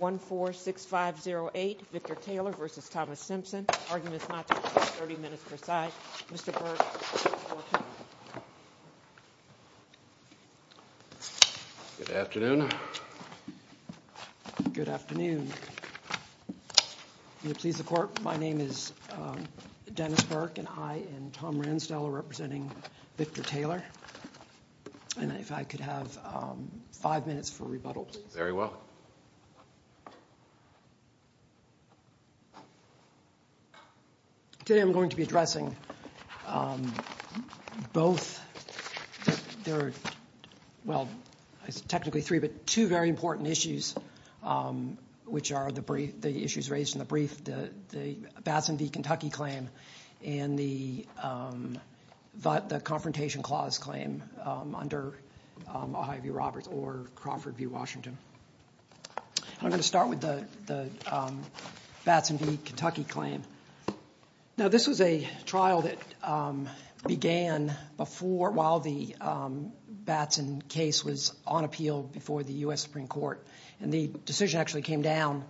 1-4-6-5-0-8, Victor Taylor v. Thomas Simpson, Arguments Not True, 30 minutes per side. Mr. Burke, the floor is yours. Good afternoon. Good afternoon. Will you please report? My name is Dennis Burke and I and Tom Ransdell are representing Victor Taylor. And if I could have five minutes for rebuttal, please. Very well. Today I'm going to be addressing both, there are, well, technically three, but two very important issues, which are the issues raised in the brief, the Batson v. Kentucky claim and the Confrontation Clause claim under Ohio v. Roberts or Crawford v. Washington. I'm going to start with the Batson v. Kentucky claim. Now this was a trial that began before, while the Batson case was on appeal before the U.S. Supreme Court. And the decision actually came down,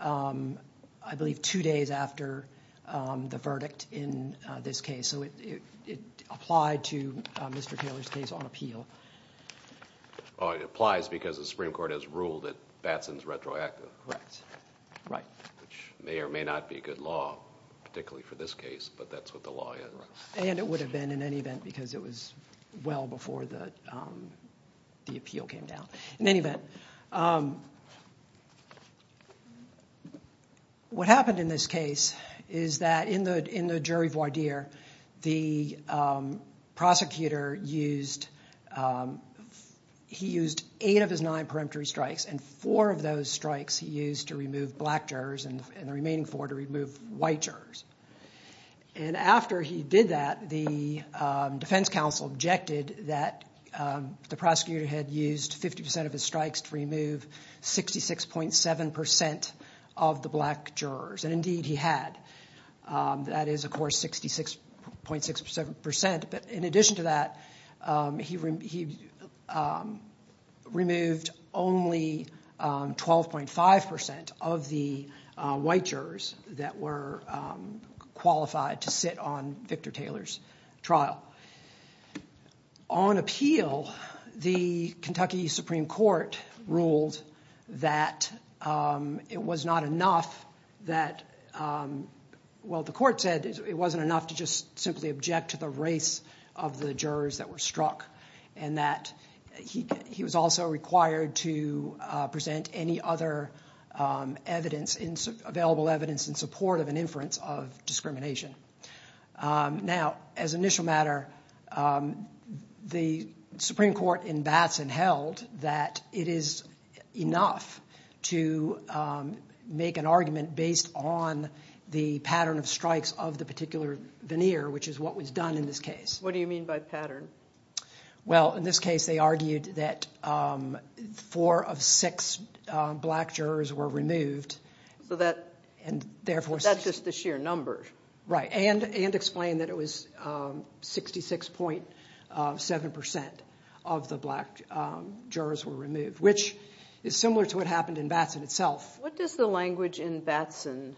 I believe, two days after the verdict in this case. So it applied to Mr. Taylor's case on appeal. Oh, it applies because the Supreme Court has ruled that Batson's retroactive. Correct. Right. Which may or may not be good law, particularly for this case, but that's what the law is. And it would have been in any event because it was well before the appeal came down. In any event, what happened in this case is that in the jury voir dire, the prosecutor used eight of his nine peremptory strikes and four of those strikes he used to remove black jurors and the remaining four to remove white jurors. And after he did that, the defense counsel objected that the prosecutor had used 50% of his strikes to remove 66.7% of the black jurors. And indeed he had. That is, of course, 66.7%. But in addition to that, he removed only 12.5% of the white jurors that were qualified to sit on Victor Taylor's trial. On appeal, the Kentucky Supreme Court ruled that it was not enough that, well, the court said it wasn't enough to just simply object to the race of the jurors that were struck and that he was also required to present any other available evidence in support of an inference of discrimination. Now, as an initial matter, the Supreme Court in Batson held that it is enough to make an argument based on the pattern of strikes of the particular veneer, which is what was done in this case. What do you mean by pattern? Well, in this case they argued that four of six black jurors were removed. So that's just the sheer number? Right, and explained that it was 66.7% of the black jurors were removed, which is similar to what happened in Batson itself. What does the language in Batson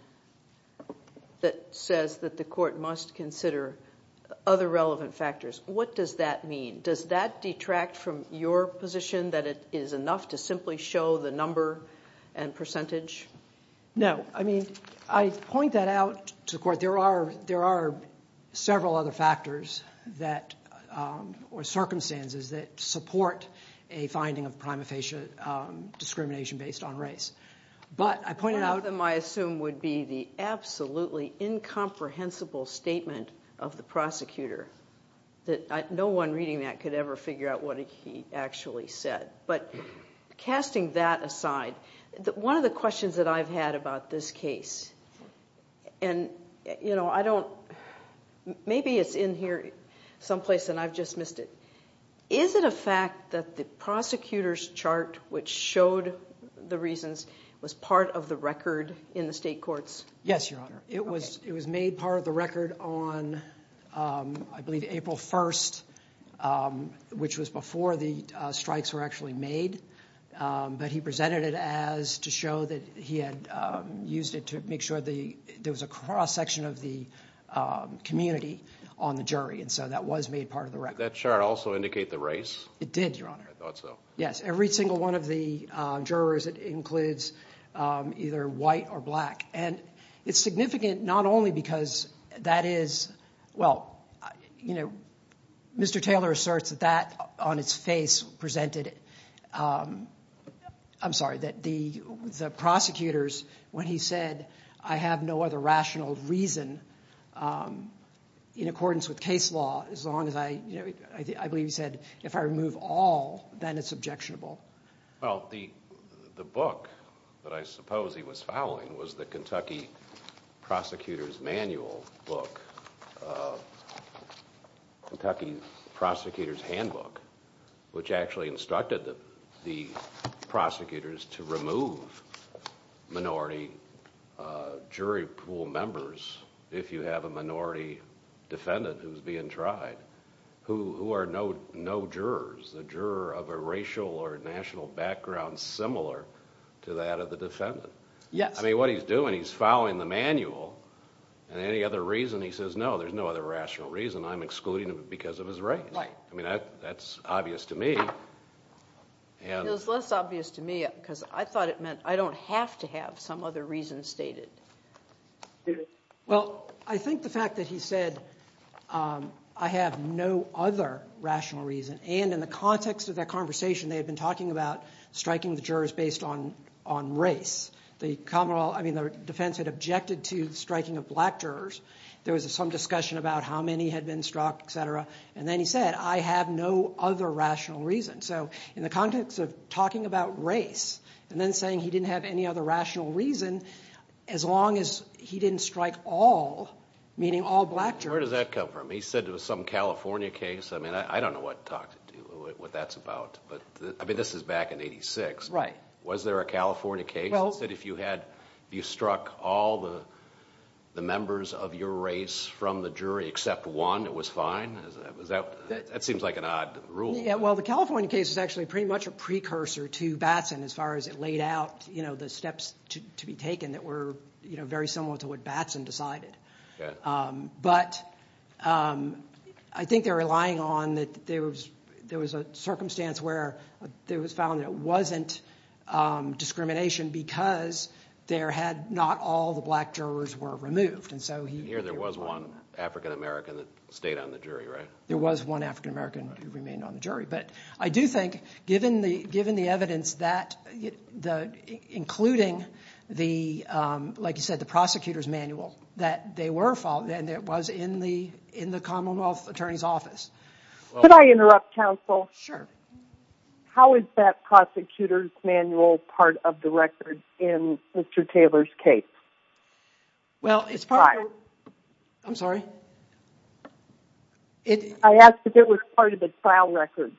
that says that the court must consider other relevant factors, what does that mean? Does that detract from your position that it is enough to simply show the number and percentage? No, I mean, I point that out to the court. There are several other factors or circumstances that support a finding of prima facie discrimination based on race. One of them, I assume, would be the absolutely incomprehensible statement of the prosecutor. No one reading that could ever figure out what he actually said. But casting that aside, one of the questions that I've had about this case, and maybe it's in here someplace and I've just missed it. Is it a fact that the prosecutor's chart, which showed the reasons, was part of the record in the state courts? Yes, Your Honor. It was made part of the record on, I believe, April 1st, which was before the strikes were actually made. But he presented it as to show that he had used it to make sure there was a cross-section of the community on the jury, and so that was made part of the record. Did that chart also indicate the race? It did, Your Honor. I thought so. Yes, every single one of the jurors, it includes either white or black, and it's significant not only because that is – well, Mr. Taylor asserts that that, on its face, presented – I'm sorry, that the prosecutors, when he said, I have no other rational reason in accordance with case law as long as I – I believe he said, if I remove all, then it's objectionable. Well, the book that I suppose he was fouling was the Kentucky Prosecutor's Manual book, Kentucky Prosecutor's Handbook, which actually instructed the prosecutors to remove minority jury pool members if you have a minority defendant who's being tried, who are no jurors, the juror of a racial or national background similar to that of the defendant. Yes. I mean, what he's doing, he's fouling the manual, and any other reason he says, no, there's no other rational reason, I'm excluding him because of his race. Right. I mean, that's obvious to me. It was less obvious to me because I thought it meant I don't have to have some other reason stated. Well, I think the fact that he said, I have no other rational reason, and in the context of that conversation, they had been talking about striking the jurors based on race. The Commonwealth – I mean, the defense had objected to the striking of black jurors. There was some discussion about how many had been struck, et cetera. And then he said, I have no other rational reason. So in the context of talking about race and then saying he didn't have any other rational reason, as long as he didn't strike all, meaning all black jurors. Where does that come from? He said it was some California case. I mean, I don't know what that's about, but I mean, this is back in 86. Right. Was there a California case? He said if you had struck all the members of your race from the jury except one, it was fine? That seems like an odd rule. Well, the California case is actually pretty much a precursor to Batson as far as it laid out the steps to be taken that were very similar to what Batson decided. But I think they're relying on that there was a circumstance where it was found that it wasn't discrimination because not all the black jurors were removed. And here there was one African-American that stayed on the jury, right? There was one African-American who remained on the jury. But I do think, given the evidence, including, like you said, the prosecutor's manual, that they were found and it was in the Commonwealth Attorney's Office. Could I interrupt, counsel? Sure. How is that prosecutor's manual part of the record in Mr. Taylor's case? Well, it's part of... I'm sorry? I asked if it was part of the trial record.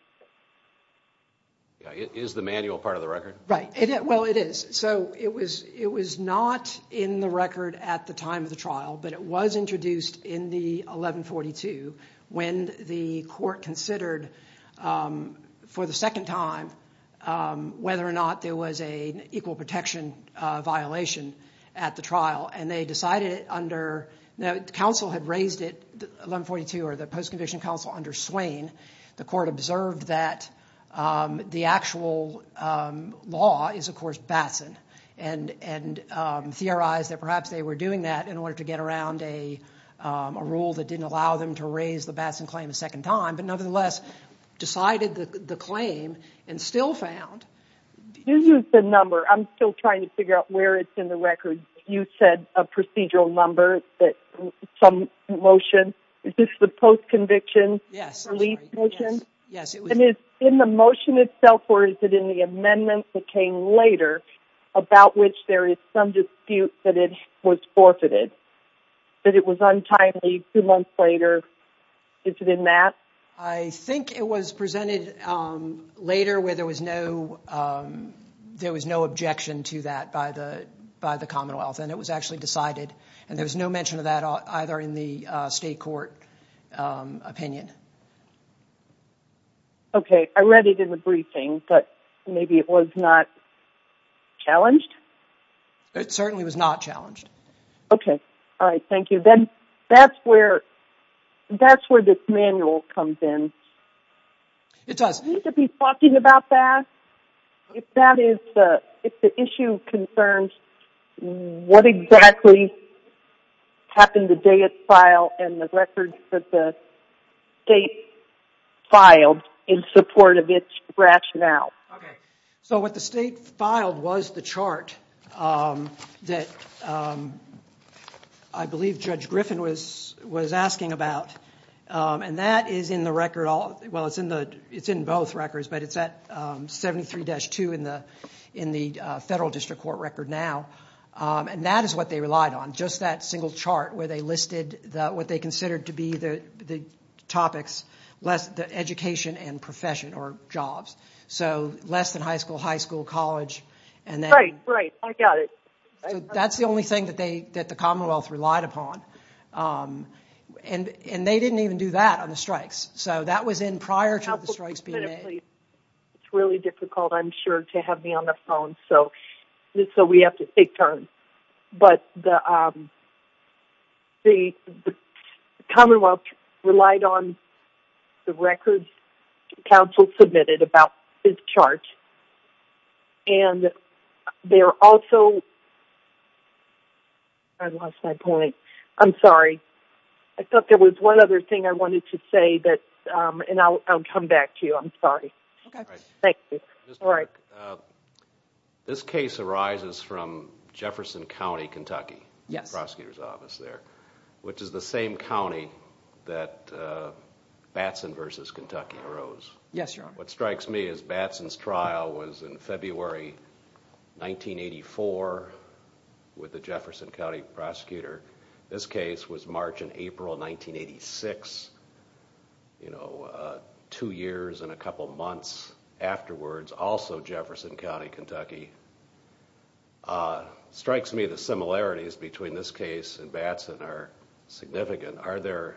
It is the manual part of the record? Right. Well, it is. So it was not in the record at the time of the trial, but it was introduced in the 1142 when the court considered for the second time whether or not there was an equal protection violation at the trial. And they decided under... Now, counsel had raised it, 1142 or the post-conviction counsel, under Swain. The court observed that the actual law is, of course, Batson and theorized that perhaps they were doing that in order to get around a rule that didn't allow them to raise the Batson claim a second time. But, nevertheless, decided the claim and still found... This is the number. I'm still trying to figure out where it's in the record. You said a procedural number, some motion. Is this the post-conviction release motion? Yes. And is it in the motion itself or is it in the amendment that came later about which there is some dispute that it was forfeited, that it was untimely two months later? Is it in that? I think it was presented later where there was no objection to that by the Commonwealth and it was actually decided. And there was no mention of that either in the state court opinion. Okay, I read it in the briefing, but maybe it was not challenged? It certainly was not challenged. Okay. All right, thank you. Then that's where this manual comes in. It does. Do we need to be talking about that if the issue concerns what exactly happened the day it's filed and the records that the state filed in support of its rationale? Okay, so what the state filed was the chart that I believe Judge Griffin was asking about. And that is in the record. Well, it's in both records, but it's at 73-2 in the federal district court record now. And that is what they relied on, just that single chart where they listed what they considered to be the topics, education and profession or jobs. So less than high school, high school, college. Right, right, I got it. That's the only thing that the Commonwealth relied upon. And they didn't even do that on the strikes. So that was in prior to the strikes being made. It's really difficult, I'm sure, to have me on the phone, so we have to take turns. But the Commonwealth relied on the records counsel submitted about this chart. And there also, I lost my point. I'm sorry. I thought there was one other thing I wanted to say, and I'll come back to you. Thank you. All right. This case arises from Jefferson County, Kentucky, the prosecutor's office there, which is the same county that Batson v. Kentucky arose. Yes, Your Honor. What strikes me is Batson's trial was in February 1984 with the Jefferson County prosecutor. This case was March and April 1986, two years and a couple months afterwards. It's also Jefferson County, Kentucky. It strikes me the similarities between this case and Batson are significant. Are there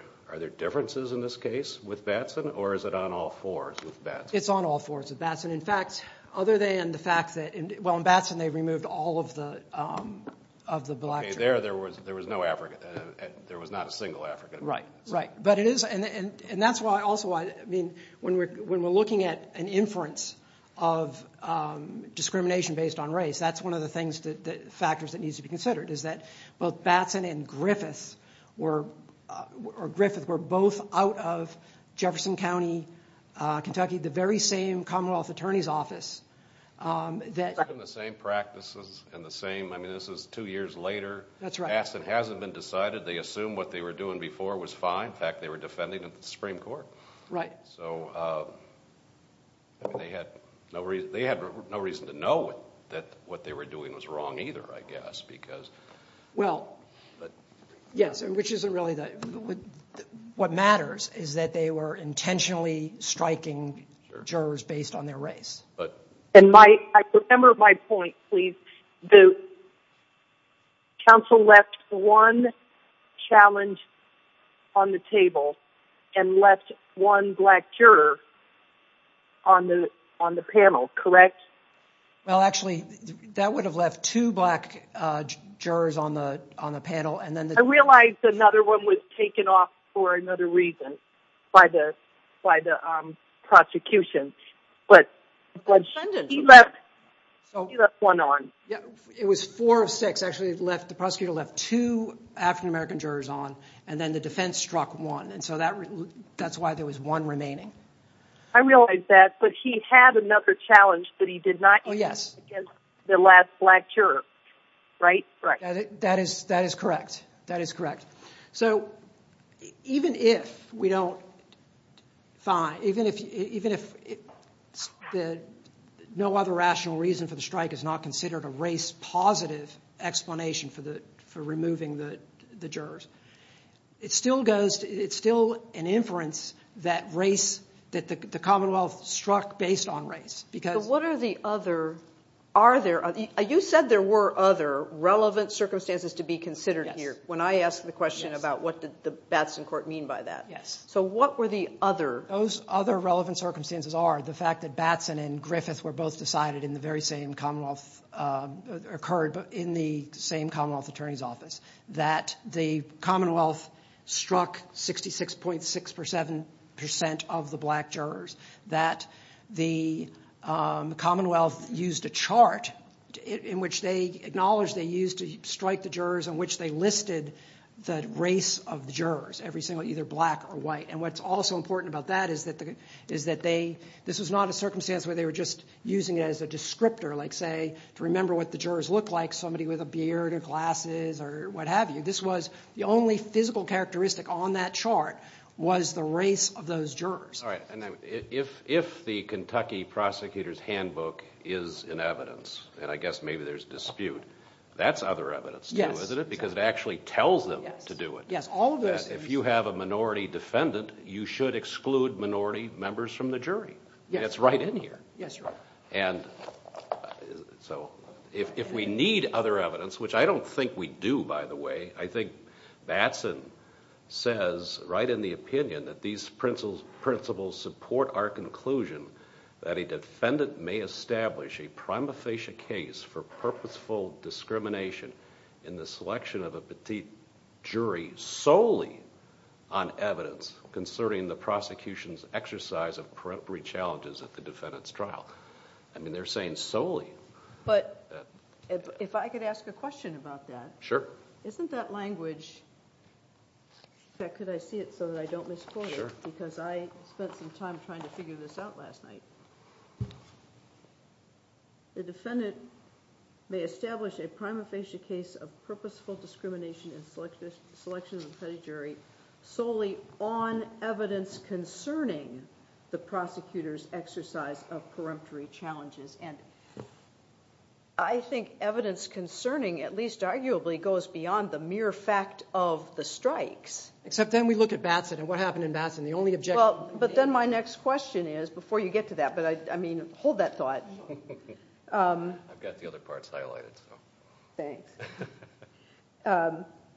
differences in this case with Batson, or is it on all fours with Batson? It's on all fours with Batson. In fact, other than the fact that, well, in Batson they removed all of the black tracks. There was no African, there was not a single African. Right, right. That's also why, when we're looking at an inference of discrimination based on race, that's one of the factors that needs to be considered, is that both Batson and Griffith were both out of Jefferson County, Kentucky, the very same Commonwealth Attorney's Office. The same practices, and the same, I mean, this is two years later. That's right. Batson hasn't been decided. They assumed what they were doing before was fine. In fact, they were defending the Supreme Court. Right. So, they had no reason to know that what they were doing was wrong either, I guess, because... Well, yes, which isn't really what matters, is that they were intentionally striking jurors based on their race. I remember my point, please. The counsel left one challenge on the table and left one black juror on the panel, correct? Well, actually, that would have left two black jurors on the panel and then... I realize another one was taken off for another reason by the prosecution. But he left one on. It was four of six, actually. The prosecutor left two African-American jurors on, and then the defense struck one. And so, that's why there was one remaining. I realize that, but he had another challenge that he did not use against the last black juror, right? That is correct. So, even if no other rational reason for the strike is not considered a race-positive explanation for removing the jurors, it's still an inference that the Commonwealth struck based on race. So, what are the other... You said there were other relevant circumstances to be considered here, when I asked the question about what did the Batson Court mean by that. So, what were the other... Those other relevant circumstances are the fact that Batson and Griffith were both decided in the very same Commonwealth... occurred in the same Commonwealth Attorney's Office. That the Commonwealth struck 66.6% of the black jurors. That the Commonwealth used a chart in which they acknowledged they used to strike the jurors, in which they listed the race of the jurors, every single... either black or white. And what's also important about that is that they... This was not a circumstance where they were just using it as a descriptor, like, say, to remember what the jurors looked like, somebody with a beard or glasses or what have you. This was... the only physical characteristic on that chart was the race of those jurors. Alright, and if the Kentucky Prosecutor's Handbook is in evidence, and I guess maybe there's dispute, that's other evidence too, isn't it? Because it actually tells them to do it. Yes, all of those... That if you have a minority defendant, you should exclude minority members from the jury. Yes. And it's right in here. Yes, Your Honor. And so, if we need other evidence, which I don't think we do, by the way, I think Batson says right in the opinion that these principles support our conclusion that a defendant may establish a prima facie case for purposeful discrimination in the selection of a petite jury solely on evidence concerning the prosecution's exercise of preemptory challenges at the defendant's trial. I mean, they're saying solely. But, if I could ask a question about that. Sure. Isn't that language... In fact, could I see it so that I don't misquote it? Sure. Because I spent some time trying to figure this out last night. The defendant may establish a prima facie case of purposeful discrimination in selection of a petite jury solely on evidence concerning the prosecutor's exercise of preemptory challenges. I think evidence concerning, at least arguably, goes beyond the mere fact of the strikes. Except then we look at Batson and what happened in Batson. The only objection... But then my next question is, before you get to that, but I mean, hold that thought. I've got the other parts highlighted. Thanks.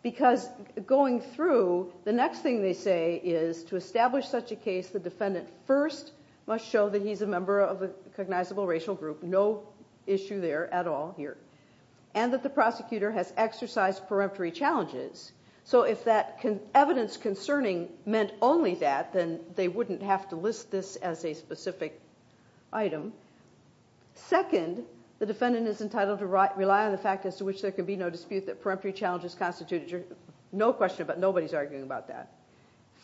Because, going through, the next thing they say is, to establish such a case, the defendant first must show that he's a member of a cognizable racial group. No issue there, at all, here. And that the prosecutor has exercised preemptory challenges. So, if that evidence concerning meant only that, then they wouldn't have to list this as a specific item. Second, the defendant is entitled to rely on the fact as to which there can be no dispute that preemptory challenges constitute a jury. No question about it. Nobody's arguing about that.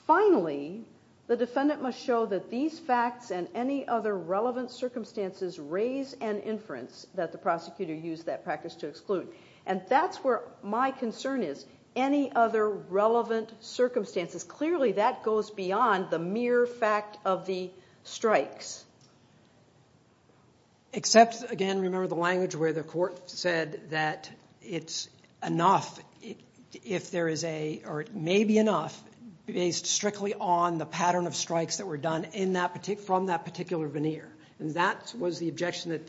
Finally, the defendant must show that these facts and any other relevant circumstances raise an inference that the prosecutor used that practice to exclude. And that's where my concern is. Any other relevant circumstances. Clearly, that goes beyond the mere fact of the strikes. Except, again, remember the language where the court said that it's enough, if there is a, or it may be enough, based strictly on the pattern of strikes that were done from that particular veneer. And that was the objection that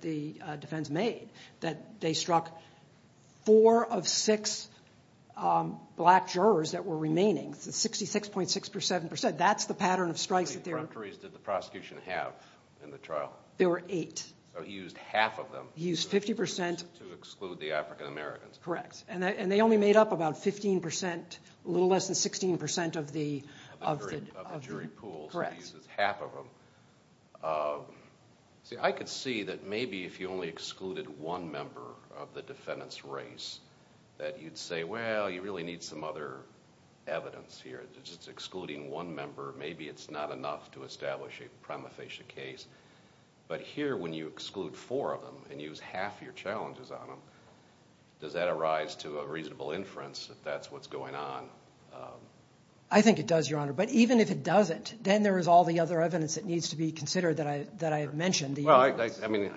the defense made. That they struck four of six black jurors that were remaining. So, 66.6%. That's the pattern of strikes. How many preemptories did the prosecution have in the trial? There were eight. So, he used half of them. He used 50%. To exclude the African Americans. Correct. And they only made up about 15%, a little less than 16% of the jury pool. So, he uses half of them. See, I could see that maybe if you only excluded one member of the defendant's race, that you'd say, well, you really need some other evidence here. Just excluding one member, maybe it's not enough to establish a prima facie case. But here, when you exclude four of them and use half your challenges on them, does that arise to a reasonable inference that that's what's going on? I think it does, Your Honor. But even if it doesn't, then there is all the other evidence that needs to be considered that I mentioned. Well, I mean,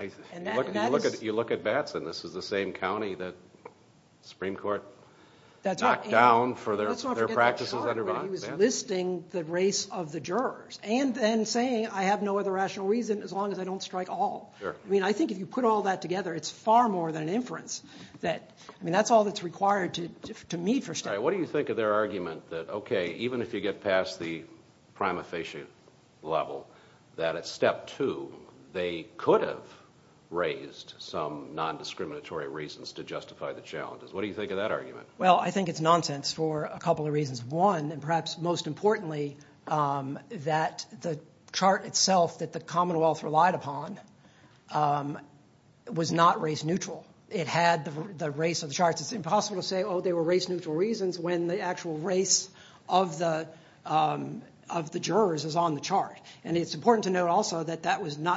you look at Batson. This is the same county that the Supreme Court knocked down for their practices under Batson. He was listing the race of the jurors. And then saying, I have no other rational reason as long as I don't strike all. I mean, I think if you put all that together, it's far more than an inference. I mean, that's all that's required to meet for step one. What do you think of their argument that, okay, even if you get past the prima facie level, that at step two they could have raised some nondiscriminatory reasons to justify the challenges? What do you think of that argument? Well, I think it's nonsense for a couple of reasons. One, and perhaps most importantly, that the chart itself that the Commonwealth relied upon was not race neutral. It had the race of the charts. It's impossible to say, oh, they were race neutral reasons when the actual race of the jurors is on the chart. And it's important to note also that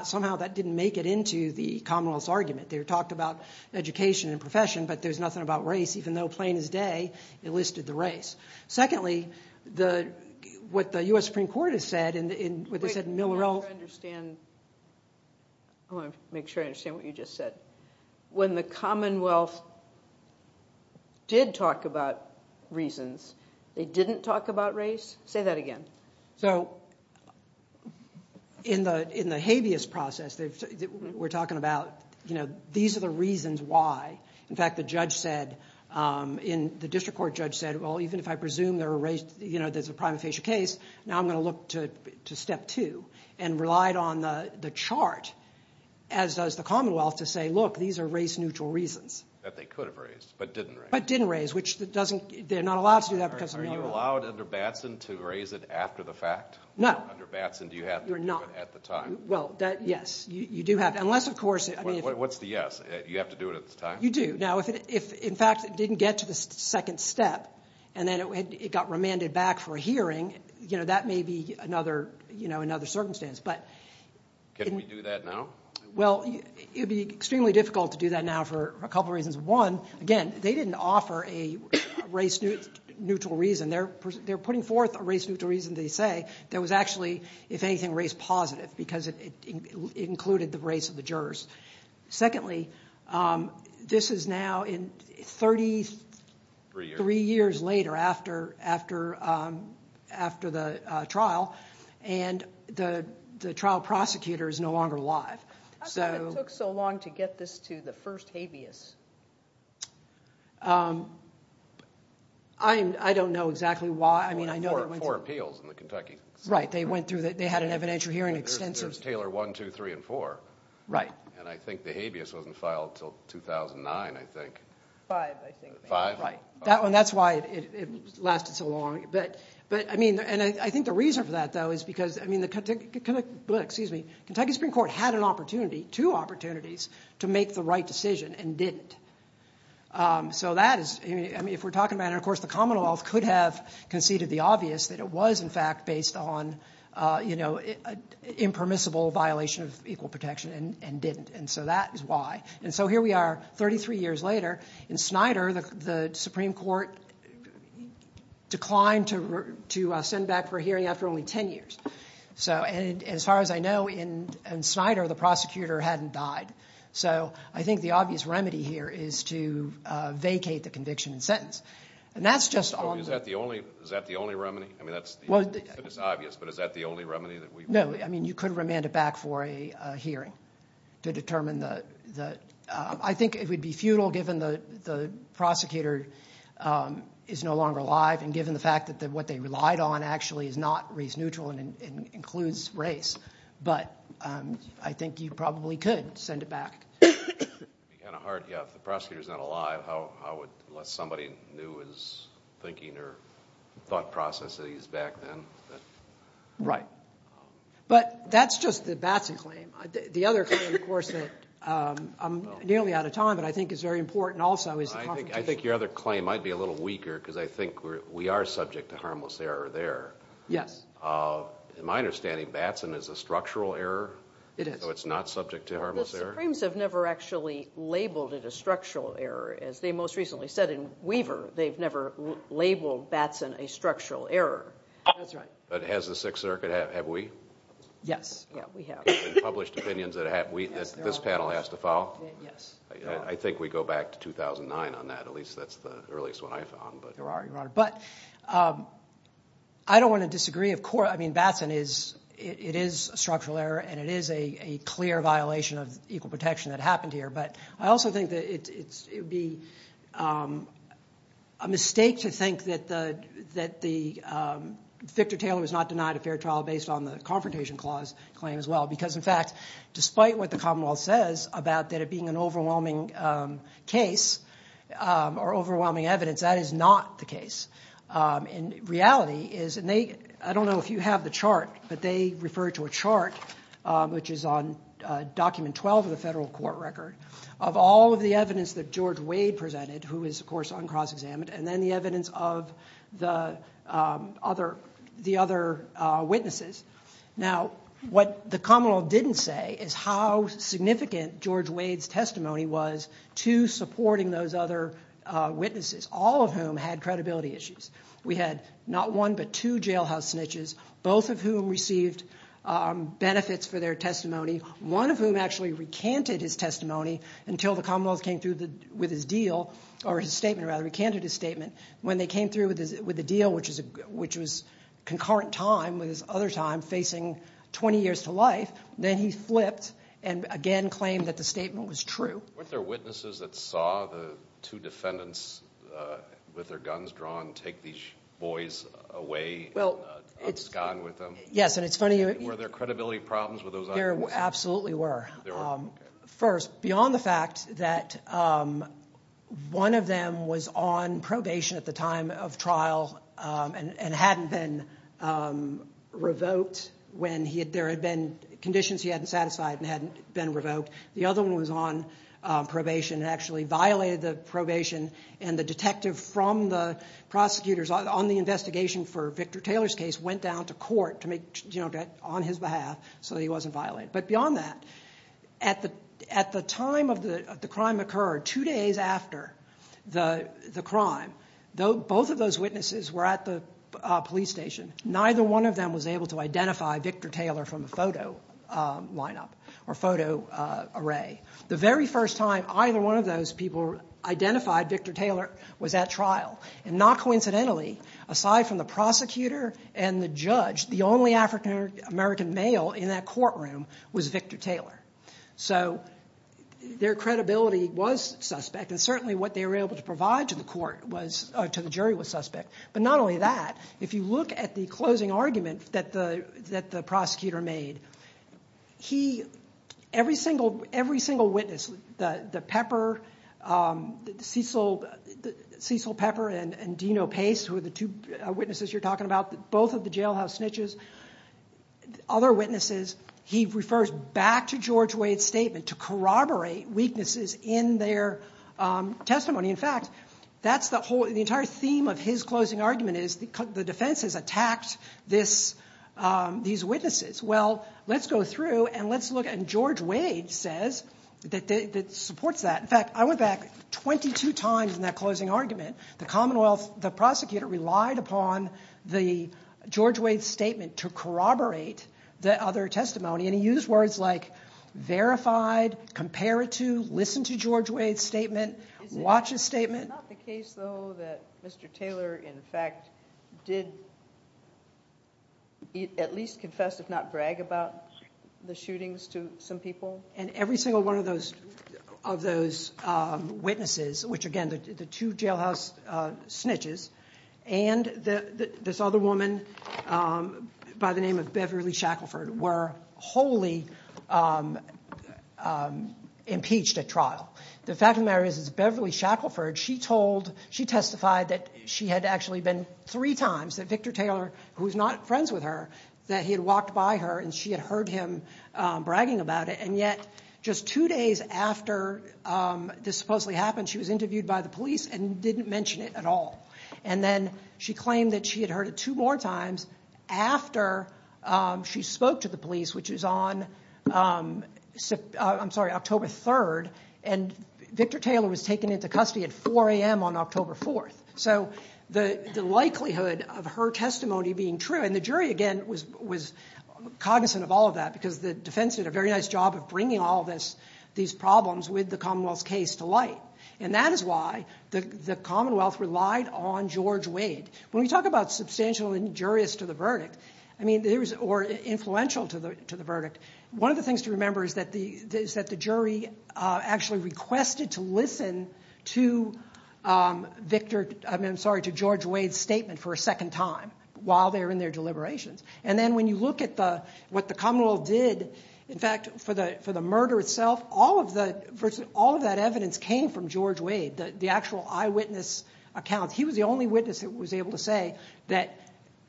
somehow that didn't make it into the Commonwealth's argument. They talked about education and profession, but there's nothing about race, even though plain as day it listed the race. Secondly, what the U.S. Supreme Court has said, what they said in Millerell. I want to make sure I understand what you just said. When the Commonwealth did talk about reasons, they didn't talk about race? Say that again. So in the habeas process, we're talking about these are the reasons why. In fact, the judge said, the district court judge said, well, even if I presume there's a prima facie case, now I'm going to look to step two and relied on the chart, as does the Commonwealth, to say, look, these are race neutral reasons. That they could have raised, but didn't raise. But didn't raise, which they're not allowed to do that because of Millerell. Were you allowed under Batson to raise it after the fact? No. Under Batson, do you have to do it at the time? Well, yes. You do have to. Unless, of course. What's the yes? You have to do it at the time? You do. Now, if in fact it didn't get to the second step, and then it got remanded back for a hearing, that may be another circumstance. Can we do that now? Well, it would be extremely difficult to do that now for a couple reasons. One, again, they didn't offer a race neutral reason. They're putting forth a race neutral reason, they say, that was actually, if anything, race positive because it included the race of the jurors. Secondly, this is now 33 years later after the trial, and the trial prosecutor is no longer alive. How come it took so long to get this to the first habeas? I don't know exactly why. There were four appeals in the Kentucky Supreme Court. Right. They had an evidentiary hearing. There's Taylor 1, 2, 3, and 4. Right. And I think the habeas wasn't filed until 2009, I think. Five, I think. Five? Right. That's why it lasted so long. I think the reason for that, though, is because the Kentucky Supreme Court had an opportunity, two opportunities, to make the right decision and didn't. If we're talking about it, of course, the Commonwealth could have conceded the obvious that it was, in fact, based on an impermissible violation of equal protection and didn't. And so that is why. And so here we are 33 years later. In Snyder, the Supreme Court declined to send back for a hearing after only 10 years. And as far as I know, in Snyder, the prosecutor hadn't died. So I think the obvious remedy here is to vacate the conviction and sentence. And that's just on the— Is that the only remedy? I mean, it's obvious, but is that the only remedy that we— No, I mean, you could remand it back for a hearing to determine the— I think it would be futile given the prosecutor is no longer alive and given the fact that what they relied on actually is not race neutral and includes race. But I think you probably could send it back. It would be kind of hard. Yeah, if the prosecutor is not alive, how would—unless somebody knew his thinking or thought processes back then. Right. But that's just the Batson claim. The other claim, of course, that I'm nearly out of time but I think is very important also is the— I think your other claim might be a little weaker because I think we are subject to harmless error there. Yes. In my understanding, Batson is a structural error. It is. So it's not subject to harmless error. The Supremes have never actually labeled it a structural error. As they most recently said in Weaver, they've never labeled Batson a structural error. That's right. But has the Sixth Circuit? Have we? Yes. Yeah, we have. Published opinions that this panel has to follow? Yes. I think we go back to 2009 on that. At least that's the earliest one I've found. There are, Your Honor. But I don't want to disagree. I mean, Batson is—it is a structural error and it is a clear violation of equal protection that happened here. But I also think that it would be a mistake to think that Victor Taylor was not denied a fair trial based on the Confrontation Clause claim as well. Because, in fact, despite what the Commonwealth says about there being an overwhelming case or overwhelming evidence, that is not the case. And reality is—and I don't know if you have the chart, but they refer to a chart, which is on Document 12 of the federal court record, of all of the evidence that George Wade presented, who is, of course, on cross-examined, and then the evidence of the other witnesses. Now, what the Commonwealth didn't say is how significant George Wade's testimony was to supporting those other witnesses, all of whom had credibility issues. We had not one but two jailhouse snitches, both of whom received benefits for their testimony, one of whom actually recanted his testimony until the Commonwealth came through with his deal—or his statement, rather, recanted his statement. When they came through with the deal, which was concurrent time with his other time facing 20 years to life, then he flipped and again claimed that the statement was true. Weren't there witnesses that saw the two defendants with their guns drawn take these boys away and unscone with them? Yes, and it's funny— Were there credibility problems with those other witnesses? There absolutely were. First, beyond the fact that one of them was on probation at the time of trial and hadn't been revoked when there had been conditions he hadn't satisfied and hadn't been revoked, the other one was on probation and actually violated the probation, and the detective from the prosecutors on the investigation for Victor Taylor's case went down to court on his behalf so he wasn't violated. But beyond that, at the time the crime occurred, two days after the crime, both of those witnesses were at the police station. Neither one of them was able to identify Victor Taylor from a photo lineup or photo array. The very first time either one of those people identified Victor Taylor was at trial, and not coincidentally, aside from the prosecutor and the judge, the only African American male in that courtroom was Victor Taylor. So their credibility was suspect, and certainly what they were able to provide to the jury was suspect. But not only that, if you look at the closing argument that the prosecutor made, every single witness, Cecil Pepper and Dino Pace, who are the two witnesses you're talking about, both of the jailhouse snitches, other witnesses, he refers back to George Wade's statement to corroborate weaknesses in their testimony. In fact, the entire theme of his closing argument is the defense has attacked these witnesses. Well, let's go through and let's look, and George Wade says that it supports that. In fact, I went back 22 times in that closing argument. The Commonwealth, the prosecutor relied upon the George Wade statement to corroborate the other testimony, and he used words like verified, compare it to, listen to George Wade's statement, watch his statement. It's not the case, though, that Mr. Taylor, in fact, did at least confess, if not brag about the shootings to some people? And every single one of those witnesses, which again, the two jailhouse snitches, and this other woman by the name of Beverly Shackelford were wholly impeached at trial. The fact of the matter is Beverly Shackelford, she testified that she had actually been three times that Victor Taylor, who was not friends with her, that he had walked by her and she had heard him bragging about it. And yet, just two days after this supposedly happened, she was interviewed by the police and didn't mention it at all. And then she claimed that she had heard it two more times after she spoke to the police, which is on October 3rd, and Victor Taylor was taken into custody at 4 a.m. on October 4th. So the likelihood of her testimony being true, and the jury, again, was cognizant of all of that, because the defense did a very nice job of bringing all these problems with the Commonwealth's case to light. And that is why the Commonwealth relied on George Wade. When we talk about substantial and injurious to the verdict, or influential to the verdict, one of the things to remember is that the jury actually requested to listen to George Wade's statement for a second time while they were in their deliberations. And then when you look at what the Commonwealth did, in fact, for the murder itself, all of that evidence came from George Wade, the actual eyewitness account. He was the only witness that was able to say that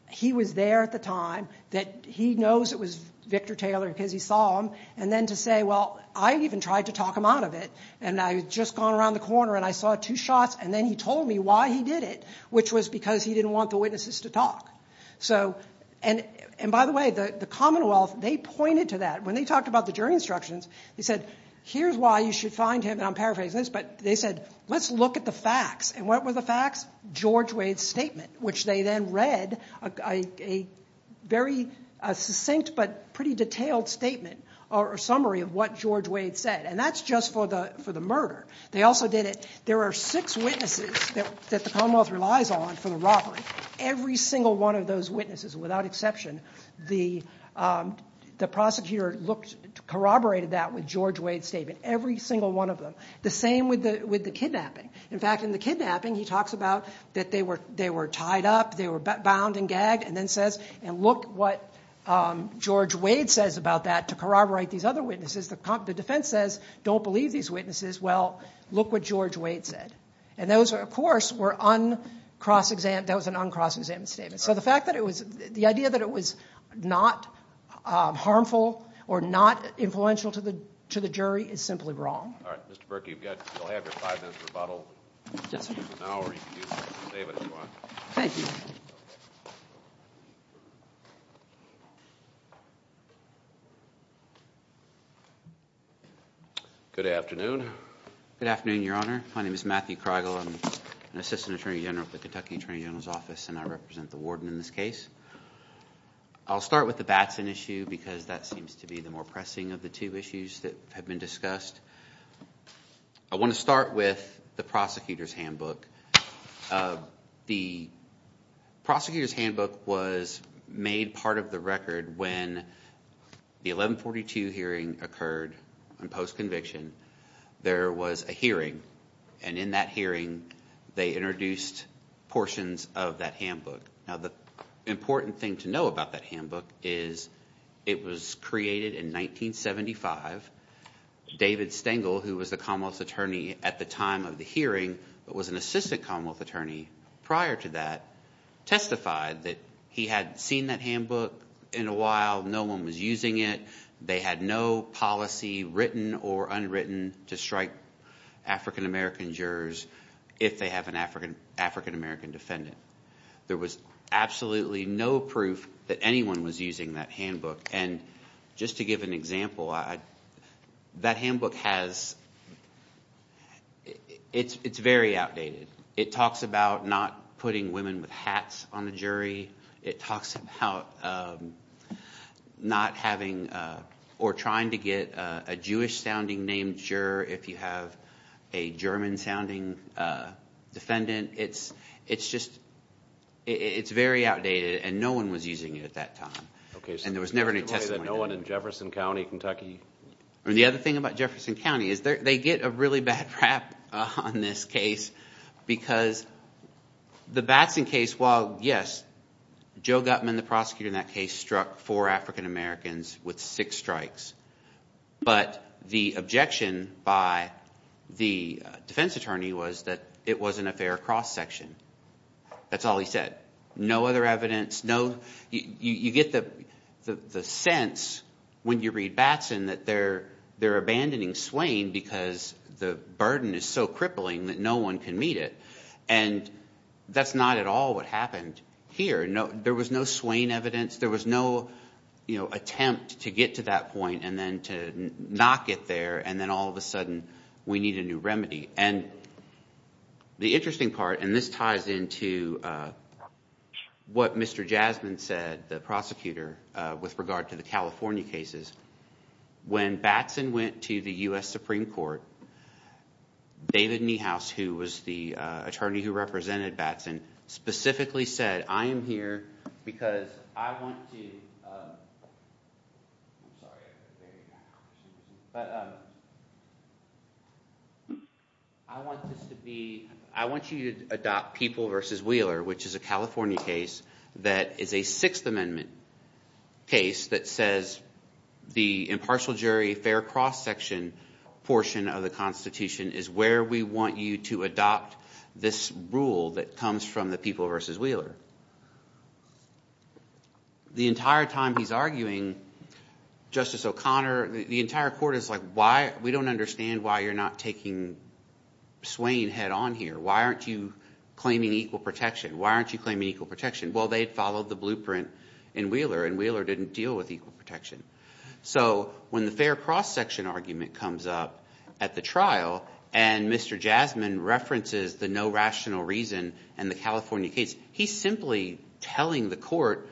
he was there at the time, that he knows it was Victor Taylor because he saw him, and then to say, well, I even tried to talk him out of it, and I had just gone around the corner and I saw two shots, and then he told me why he did it, which was because he didn't want the witnesses to talk. And by the way, the Commonwealth, they pointed to that. When they talked about the jury instructions, they said, here's why you should find him, and I'm paraphrasing this, but they said, let's look at the facts, and what were the facts? George Wade's statement, which they then read, a very succinct but pretty detailed statement, or summary of what George Wade said, and that's just for the murder. They also did it, there are six witnesses that the Commonwealth relies on for the robbery. Every single one of those witnesses, without exception, the prosecutor corroborated that with George Wade's statement. Every single one of them. The same with the kidnapping. In fact, in the kidnapping, he talks about that they were tied up, they were bound and gagged, and then says, and look what George Wade says about that to corroborate these other witnesses. The defense says, don't believe these witnesses, well, look what George Wade said. And those, of course, were uncross-examined, that was an uncross-examined statement. So the fact that it was, the idea that it was not harmful or not influential to the jury is simply wrong. All right, Mr. Berkey, you'll have your five minutes rebuttal. Yes, sir. Or you can use it and save it if you want. Thank you. Good afternoon. Good afternoon, Your Honor. My name is Matthew Kreigel. I'm an assistant attorney general at the Kentucky Attorney General's Office, and I represent the warden in this case. I'll start with the Batson issue because that seems to be the more pressing of the two issues that have been discussed. I want to start with the prosecutor's handbook. The prosecutor's handbook was made part of the record when the 1142 hearing occurred in post-conviction. There was a hearing, and in that hearing they introduced portions of that handbook. Now, the important thing to know about that handbook is it was created in 1975. David Stengel, who was the Commonwealth attorney at the time of the hearing but was an assistant Commonwealth attorney prior to that, testified that he had seen that handbook in a while. No one was using it. They had no policy written or unwritten to strike African-American jurors if they have an African-American defendant. There was absolutely no proof that anyone was using that handbook. And just to give an example, that handbook has – it's very outdated. It talks about not putting women with hats on the jury. It talks about not having or trying to get a Jewish-sounding named juror if you have a German-sounding defendant. It's just – it's very outdated, and no one was using it at that time. And there was never any testimony done. No one in Jefferson County, Kentucky? The other thing about Jefferson County is they get a really bad rap on this case because the Batson case, well, yes, Joe Gutman, the prosecutor in that case, struck four African-Americans with six strikes. But the objection by the defense attorney was that it wasn't a fair cross-section. That's all he said. No other evidence, no – you get the sense when you read Batson that they're abandoning Swain because the burden is so crippling that no one can meet it. And that's not at all what happened here. There was no Swain evidence. There was no attempt to get to that point and then to not get there, and then all of a sudden we need a new remedy. And the interesting part – and this ties into what Mr. Jasmine said, the prosecutor, with regard to the California cases. When Batson went to the U.S. Supreme Court, David Niehaus, who was the attorney who represented Batson, specifically said, I am here because I want you to adopt People v. Wheeler, which is a California case that is a Sixth Amendment case that says that the impartial jury, fair cross-section portion of the Constitution is where we want you to adopt this rule that comes from the People v. Wheeler. The entire time he's arguing, Justice O'Connor – the entire court is like, why – we don't understand why you're not taking Swain head-on here. Why aren't you claiming equal protection? Why aren't you claiming equal protection? Well, they had followed the blueprint in Wheeler, and Wheeler didn't deal with equal protection. So when the fair cross-section argument comes up at the trial and Mr. Jasmine references the no rational reason and the California case, he's simply telling the court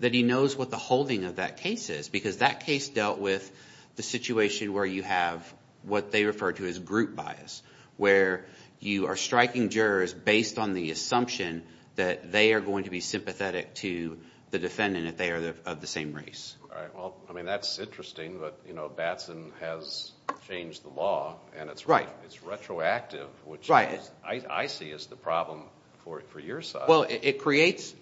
that he knows what the holding of that case is because that case dealt with the situation where you have what they refer to as group bias, where you are striking jurors based on the assumption that they are going to be sympathetic to the defendant if they are of the same race. Well, I mean, that's interesting, but Batson has changed the law, and it's retroactive, which I see as the problem for your side. Well, it creates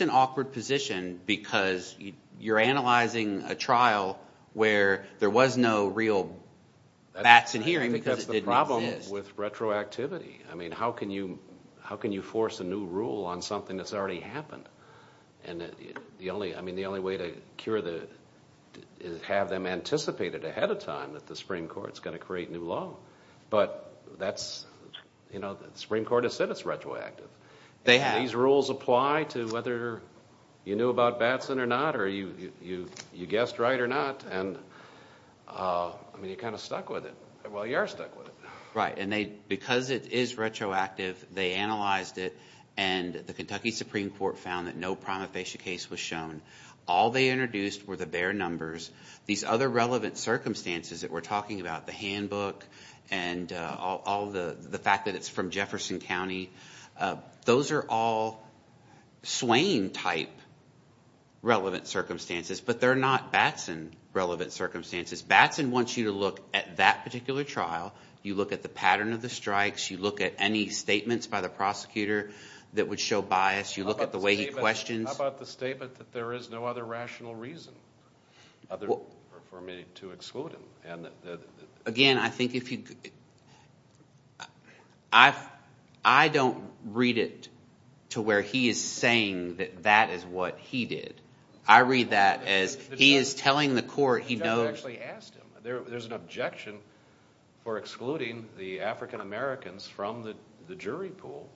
an awkward position because you're analyzing a trial where there was no real Batson hearing because it didn't exist. I think that's the problem with retroactivity. I mean how can you force a new rule on something that's already happened? And the only way to cure the – is have them anticipate it ahead of time that the Supreme Court is going to create new law. But that's – the Supreme Court has said it's retroactive. They have. These rules apply to whether you knew about Batson or not, or you guessed right or not, and I mean you're kind of stuck with it. Well, you are stuck with it. Right, and because it is retroactive, they analyzed it, and the Kentucky Supreme Court found that no prima facie case was shown. All they introduced were the bare numbers. These other relevant circumstances that we're talking about, the handbook and all the fact that it's from Jefferson County, those are all Swain-type relevant circumstances. But they're not Batson relevant circumstances. Batson wants you to look at that particular trial. You look at the pattern of the strikes. You look at any statements by the prosecutor that would show bias. You look at the way he questions. How about the statement that there is no other rational reason for me to exclude him? Again, I think if you – I don't read it to where he is saying that that is what he did. I read that as he is telling the court he knows. The judge actually asked him. There's an objection for excluding the African-Americans from the jury pool,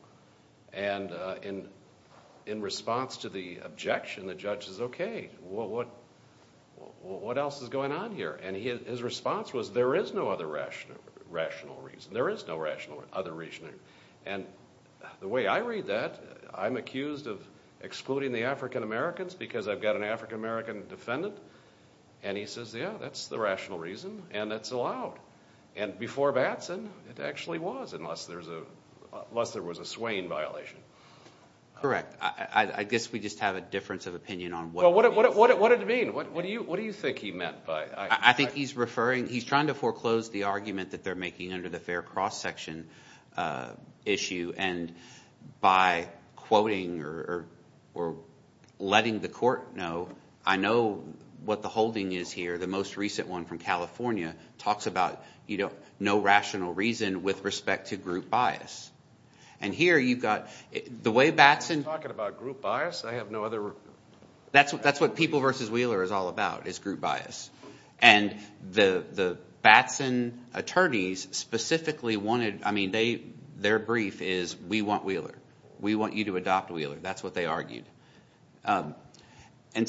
and in response to the objection, the judge says, okay, what else is going on here? And his response was there is no other rational reason. There is no other rational reason. And the way I read that, I'm accused of excluding the African-Americans because I've got an African-American defendant. And he says, yeah, that's the rational reason, and it's allowed. And before Batson, it actually was unless there was a Swain violation. Correct. I guess we just have a difference of opinion on what it means. What did it mean? What do you think he meant by it? I think he's referring – he's trying to foreclose the argument that they're making under the fair cross-section issue. And by quoting or letting the court know, I know what the holding is here. The most recent one from California talks about no rational reason with respect to group bias. And here you've got – the way Batson – Are you talking about group bias? I have no other – That's what People v. Wheeler is all about is group bias. And the Batson attorneys specifically wanted – I mean their brief is we want Wheeler. We want you to adopt Wheeler. That's what they argued. And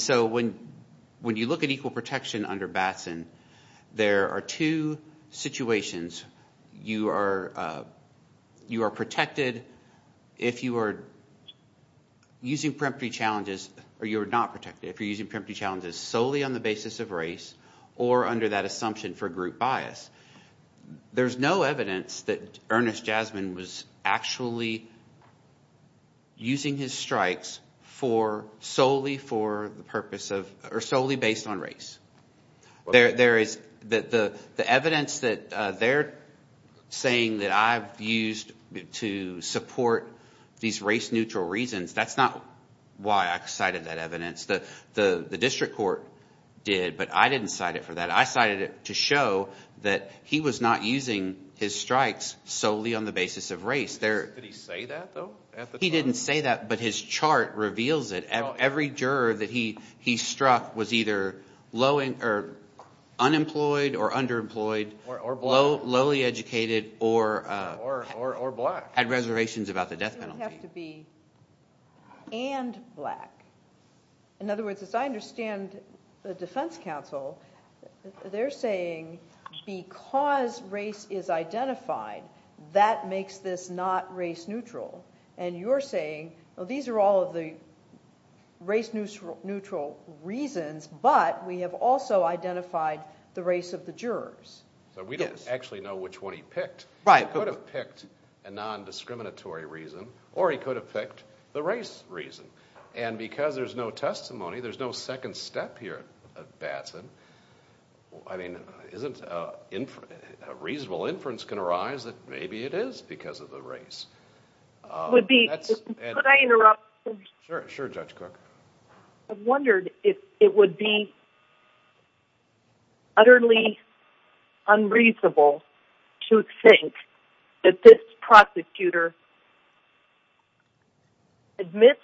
so when you look at equal protection under Batson, there are two situations. You are protected if you are using preemptory challenges – or you are not protected if you're using preemptory challenges solely on the basis of race or under that assumption for group bias. There's no evidence that Ernest Jasmine was actually using his strikes for – solely for the purpose of – or solely based on race. There is – the evidence that they're saying that I've used to support these race-neutral reasons, that's not why I cited that evidence. The district court did, but I didn't cite it for that. I cited it to show that he was not using his strikes solely on the basis of race. Did he say that though at the time? He didn't say that, but his chart reveals it. Every juror that he struck was either unemployed or underemployed, lowly educated, or had reservations about the death penalty. It would have to be and black. In other words, as I understand the defense counsel, they're saying because race is identified, that makes this not race-neutral. And you're saying these are all of the race-neutral reasons, but we have also identified the race of the jurors. So we don't actually know which one he picked. He could have picked a non-discriminatory reason, or he could have picked the race reason. And because there's no testimony, there's no second step here at Batson. I mean, isn't a reasonable inference going to arise that maybe it is because of the race? Could I interrupt? Sure, Judge Cook. I wondered if it would be utterly unreasonable to think that this prosecutor admits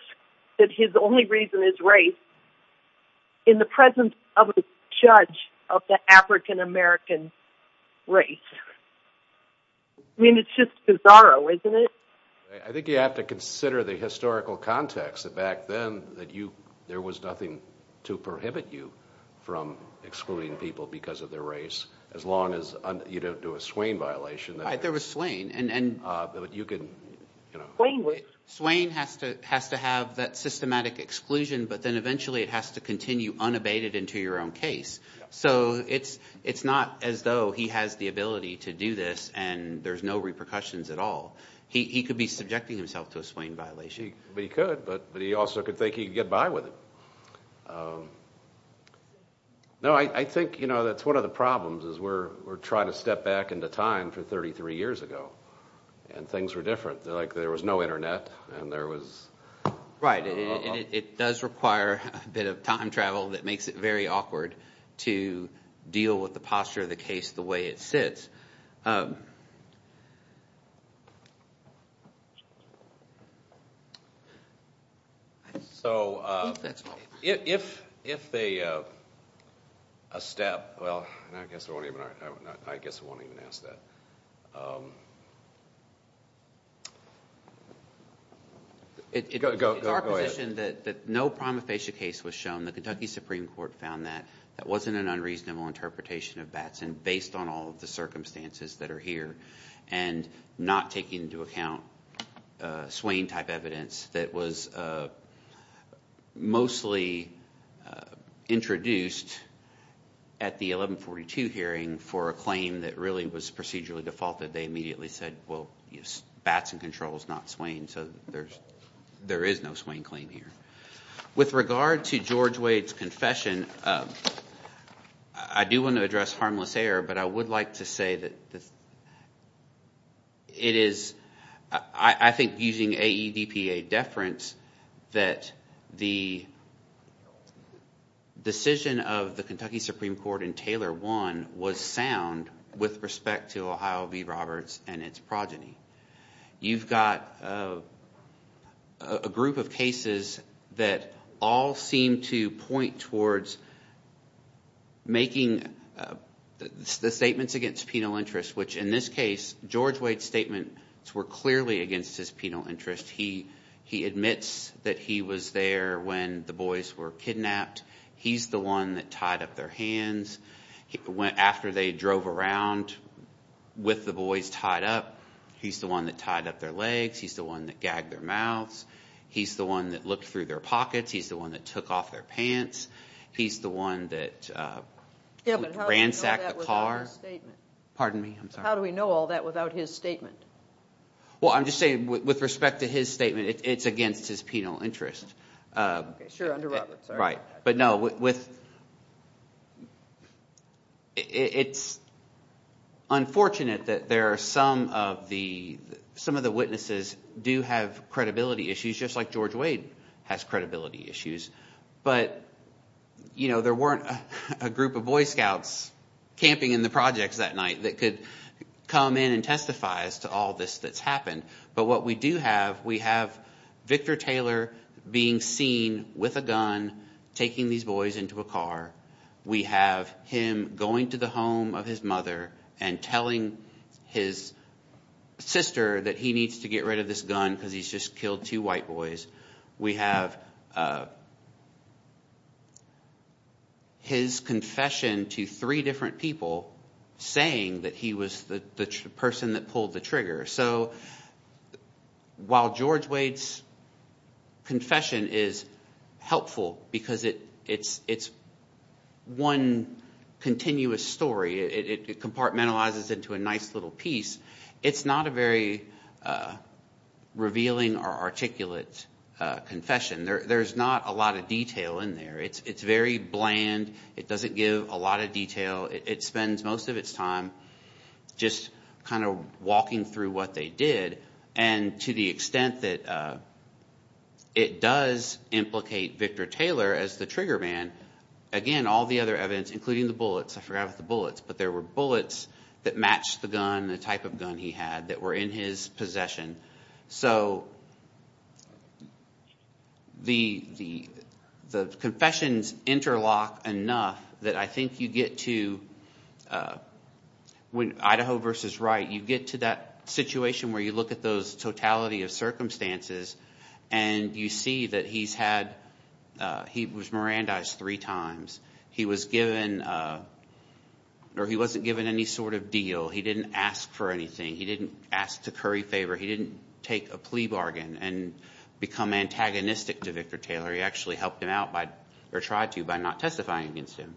that his only reason is race in the presence of a judge of the African-American race. I mean, it's just bizarre, isn't it? I think you have to consider the historical context of back then that there was nothing to prohibit you from excluding people because of their race, as long as you don't do a Swain violation. Right, there was Swain. Swain has to have that systematic exclusion, but then eventually it has to continue unabated into your own case. So it's not as though he has the ability to do this and there's no repercussions at all. He could be subjecting himself to a Swain violation. He could, but he also could think he could get by with it. No, I think that's one of the problems is we're trying to step back into time from 33 years ago, and things were different. There was no internet, and there was— Right, and it does require a bit of time travel that makes it very awkward to deal with the posture of the case the way it sits. So if a step—well, I guess I won't even ask that. Go ahead. It's our position that no prima facie case was shown. The Kentucky Supreme Court found that that wasn't an unreasonable interpretation of Batson based on all of the circumstances that are here, and not taking into account Swain type evidence that was mostly introduced at the 1142 hearing for a claim that really was procedurally defaulted. They immediately said, well, Batson Control is not Swain, so there is no Swain claim here. With regard to George Wade's confession, I do want to address harmless error, but I would like to say that it is— I think using AEDPA deference that the decision of the Kentucky Supreme Court in Taylor 1 was sound with respect to Ohio v. Roberts and its progeny. You've got a group of cases that all seem to point towards making the statements against penal interest, which in this case, George Wade's statements were clearly against his penal interest. He admits that he was there when the boys were kidnapped. He's the one that tied up their hands after they drove around with the boys tied up. He's the one that tied up their legs. He's the one that gagged their mouths. He's the one that looked through their pockets. He's the one that took off their pants. He's the one that ransacked the car. How do we know all that without his statement? Well, I'm just saying with respect to his statement, it's against his penal interest. Sure, under Roberts. But no, it's unfortunate that there are some of the witnesses do have credibility issues just like George Wade has credibility issues. But there weren't a group of Boy Scouts camping in the projects that night that could come in and testify as to all this that's happened. But what we do have, we have Victor Taylor being seen with a gun taking these boys into a car. We have him going to the home of his mother and telling his sister that he needs to get rid of this gun because he's just killed two white boys. We have his confession to three different people saying that he was the person that pulled the trigger. So while George Wade's confession is helpful because it's one continuous story, it compartmentalizes into a nice little piece. It's not a very revealing or articulate confession. There's not a lot of detail in there. It's very bland. It doesn't give a lot of detail. It spends most of its time just kind of walking through what they did. And to the extent that it does implicate Victor Taylor as the trigger man, again, all the other evidence, including the bullets. I forgot about the bullets, but there were bullets that matched the gun, the type of gun he had that were in his possession. So the confessions interlock enough that I think you get to – Idaho versus Wright, you get to that situation where you look at those totality of circumstances and you see that he's had – he was Mirandized three times. He was given – or he wasn't given any sort of deal. He didn't ask for anything. He didn't ask to curry favor. He didn't take a plea bargain and become antagonistic to Victor Taylor. He actually helped him out by – or tried to by not testifying against him.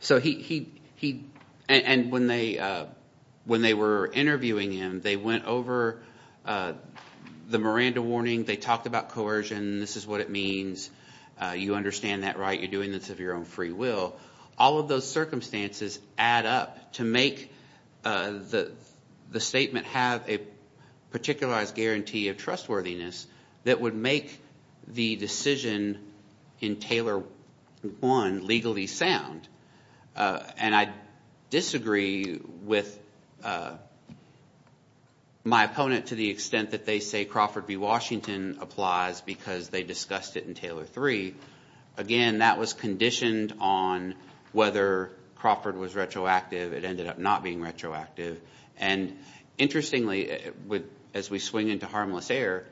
So he – and when they were interviewing him, they went over the Miranda warning. They talked about coercion. This is what it means. You understand that, right? You're doing this of your own free will. All of those circumstances add up to make the statement have a particularized guarantee of trustworthiness that would make the decision in Taylor 1 legally sound. And I disagree with my opponent to the extent that they say Crawford v. Washington applies because they discussed it in Taylor 3. Again, that was conditioned on whether Crawford was retroactive. It ended up not being retroactive. And interestingly, as we swing into harmless air,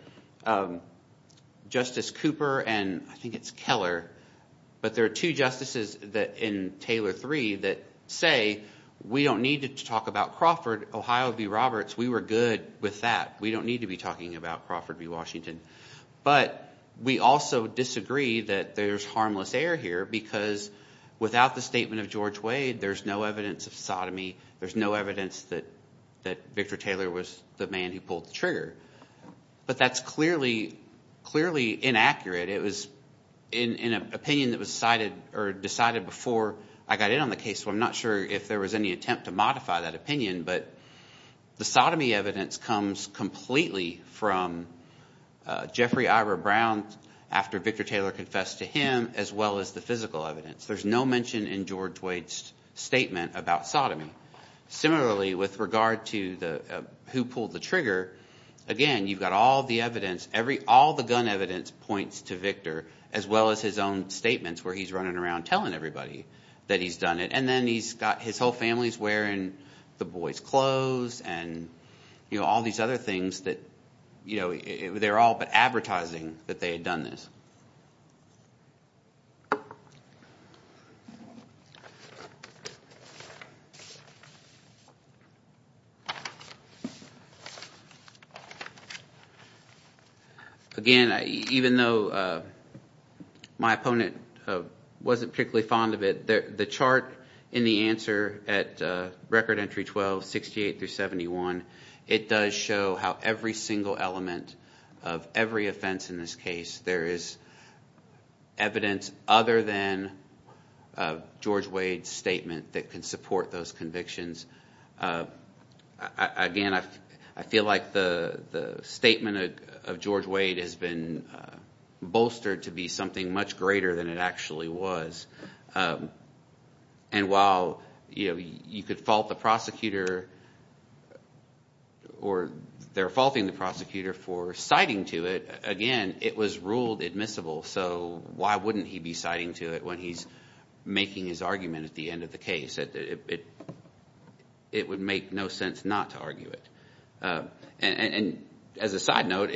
Justice Cooper and I think it's Keller, but there are two justices in Taylor 3 that say we don't need to talk about Crawford. Ohio v. Roberts, we were good with that. We don't need to be talking about Crawford v. Washington. But we also disagree that there's harmless air here because without the statement of George Wade, there's no evidence of sodomy. There's no evidence that Victor Taylor was the man who pulled the trigger. But that's clearly inaccurate. It was an opinion that was cited or decided before I got in on the case, so I'm not sure if there was any attempt to modify that opinion. But the sodomy evidence comes completely from Jeffrey Ira Brown after Victor Taylor confessed to him as well as the physical evidence. There's no mention in George Wade's statement about sodomy. Similarly, with regard to who pulled the trigger, again, you've got all the evidence. All the gun evidence points to Victor as well as his own statements where he's running around telling everybody that he's done it. And then he's got his whole family wearing the boy's clothes and all these other things that they're all but advertising that they had done this. Again, even though my opponent wasn't particularly fond of it, the chart in the answer at Record Entry 12, 68 through 71, it does show how every single element of every offense in this case, there is evidence other than George Wade's statement that can support those convictions. Again, I feel like the statement of George Wade has been bolstered to be something much greater than it actually was. And while you could fault the prosecutor or they're faulting the prosecutor for citing to it, again, it was ruled admissible. So why wouldn't he be citing to it when he's making his argument at the end of the case? It would make no sense not to argue it. And as a side note,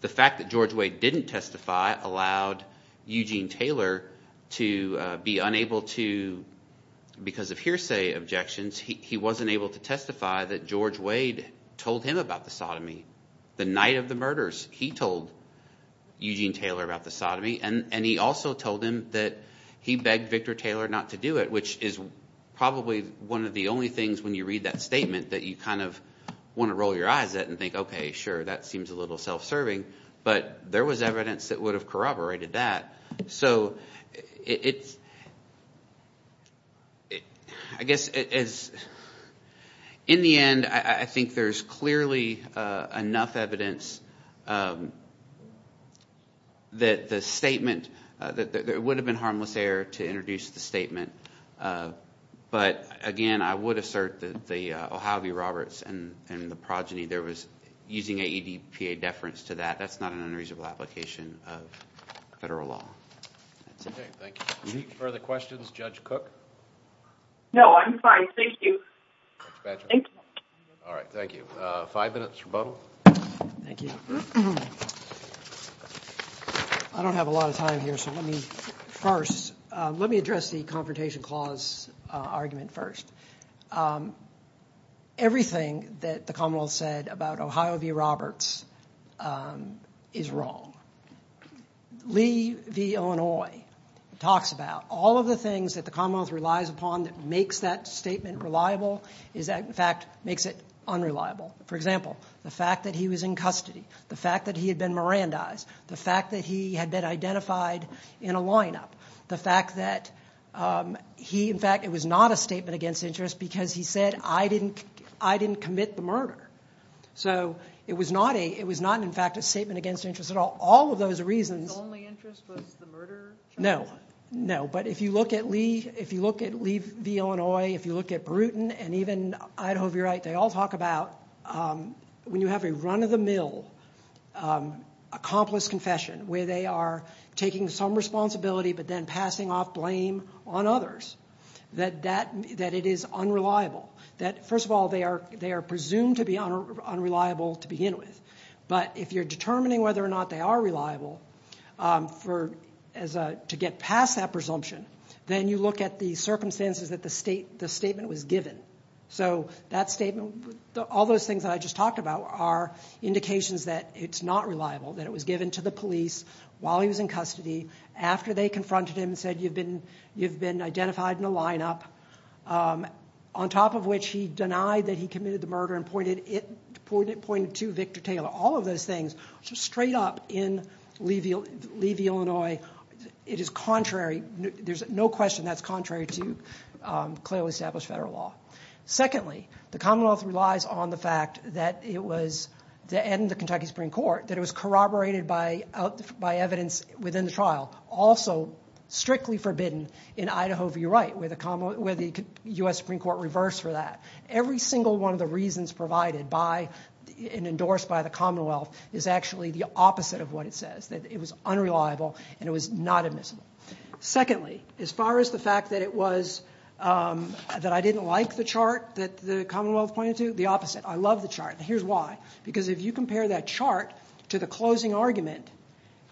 the fact that George Wade didn't testify allowed Eugene Taylor to be unable to, because of hearsay objections, he wasn't able to testify that George Wade told him about the sodomy the night of the murders. He told Eugene Taylor about the sodomy and he also told him that he begged Victor Taylor not to do it, which is probably one of the only things when you read that statement that you kind of want to roll your eyes at and think, OK, sure, that seems a little self-serving, but there was evidence that would have corroborated that. So I guess in the end, I think there's clearly enough evidence that the statement – that it would have been harmless error to introduce the statement. But again, I would assert that the O'Howie Roberts and the progeny, there was – using an EDPA deference to that, that's not an unreasonable application of federal law. That's it. OK, thank you. Any further questions? Judge Cook? No, I'm fine. Thank you. Judge Badger? Thank you. All right, thank you. Five minutes rebuttal. Thank you. I don't have a lot of time here, so let me first – let me address the confrontation clause argument first. Everything that the Commonwealth said about O'Howie Roberts is wrong. Lee v. Illinois talks about all of the things that the Commonwealth relies upon that makes that statement reliable is that, in fact, makes it unreliable. For example, the fact that he was in custody, the fact that he had been Mirandized, the fact that he had been identified in a lineup, the fact that he – I didn't commit the murder. So it was not a – it was not, in fact, a statement against interest at all. All of those reasons – His only interest was the murder charge? No, no. But if you look at Lee – if you look at Lee v. Illinois, if you look at Brewton and even Idaho v. Wright, they all talk about when you have a run-of-the-mill accomplice confession where they are taking some responsibility but then passing off blame on others, that it is unreliable. First of all, they are presumed to be unreliable to begin with. But if you're determining whether or not they are reliable to get past that presumption, then you look at the circumstances that the statement was given. So that statement – all those things that I just talked about are indications that it's not reliable, that it was given to the police while he was in custody after they confronted him and said, you've been identified in a lineup, on top of which he denied that he committed the murder and pointed to Victor Taylor. All of those things, straight up in Lee v. Illinois, it is contrary. There's no question that's contrary to clearly established federal law. Secondly, the Commonwealth relies on the fact that it was – and the Kentucky Supreme Court – that it was corroborated by evidence within the trial. Also, strictly forbidden in Idaho v. Wright, where the U.S. Supreme Court reversed for that. Every single one of the reasons provided by and endorsed by the Commonwealth is actually the opposite of what it says, that it was unreliable and it was not admissible. Secondly, as far as the fact that it was – that I didn't like the chart that the Commonwealth pointed to, the opposite, I love the chart, and here's why. Because if you compare that chart to the closing argument,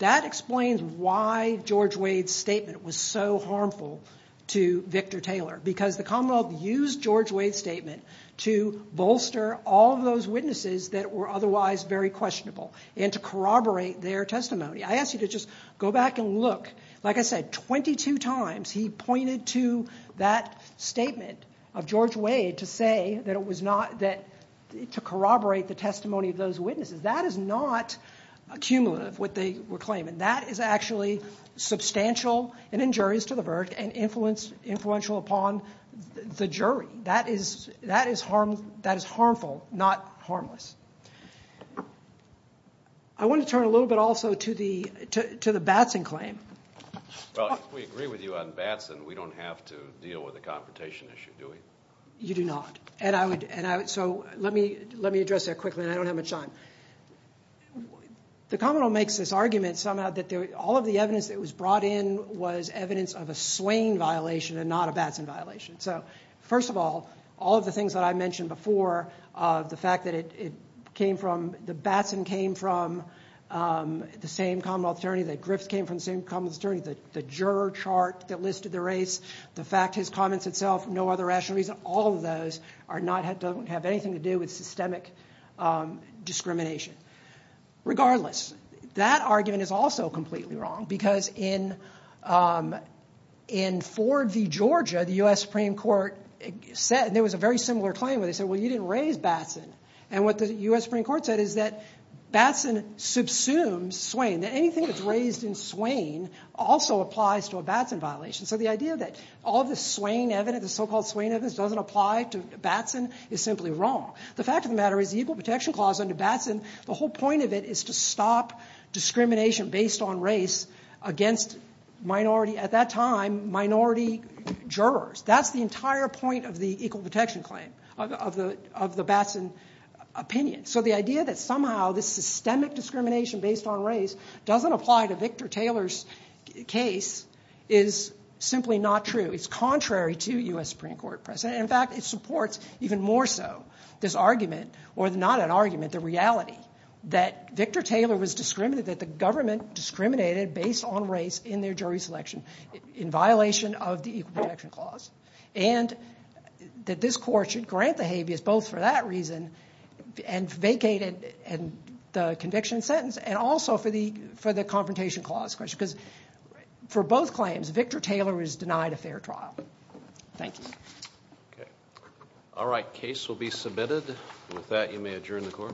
that explains why George Wade's statement was so harmful to Victor Taylor. Because the Commonwealth used George Wade's statement to bolster all of those witnesses that were otherwise very questionable and to corroborate their testimony. I ask you to just go back and look. Like I said, 22 times he pointed to that statement of George Wade to say that it was not – to corroborate the testimony of those witnesses. That is not accumulative, what they were claiming. That is actually substantial and injurious to the verdict and influential upon the jury. That is harmful, not harmless. I want to turn a little bit also to the Batson claim. Well, if we agree with you on Batson, we don't have to deal with the confrontation issue, do we? You do not. So let me address that quickly, and I don't have much time. The Commonwealth makes this argument somehow that all of the evidence that was brought in was evidence of a Swain violation and not a Batson violation. First of all, all of the things that I mentioned before, the fact that it came from – the Batson came from the same Commonwealth attorney, the Griffiths came from the same Commonwealth attorney, the juror chart that listed the race, the fact his comments itself, no other rational reason, all of those don't have anything to do with systemic discrimination. Regardless, that argument is also completely wrong because in Ford v. Georgia, the U.S. Supreme Court said – there was a very similar claim where they said, well, you didn't raise Batson. And what the U.S. Supreme Court said is that Batson subsumes Swain. Anything that's raised in Swain also applies to a Batson violation. So the idea that all of the Swain evidence, the so-called Swain evidence, doesn't apply to Batson is simply wrong. The fact of the matter is the Equal Protection Clause under Batson, the whole point of it is to stop discrimination based on race against minority – at that time, minority jurors. That's the entire point of the Equal Protection Claim, of the Batson opinion. So the idea that somehow this systemic discrimination based on race doesn't apply to Victor Taylor's case is simply not true. It's contrary to U.S. Supreme Court precedent. In fact, it supports even more so this argument – or not an argument, the reality – that Victor Taylor was discriminated – that the government discriminated based on race in their jury selection in violation of the Equal Protection Clause. And that this court should grant the habeas both for that reason and vacate the conviction and sentence, and also for the Confrontation Clause question. Because for both claims, Victor Taylor is denied a fair trial. Thank you. All right. Case will be submitted. With that, you may adjourn the court.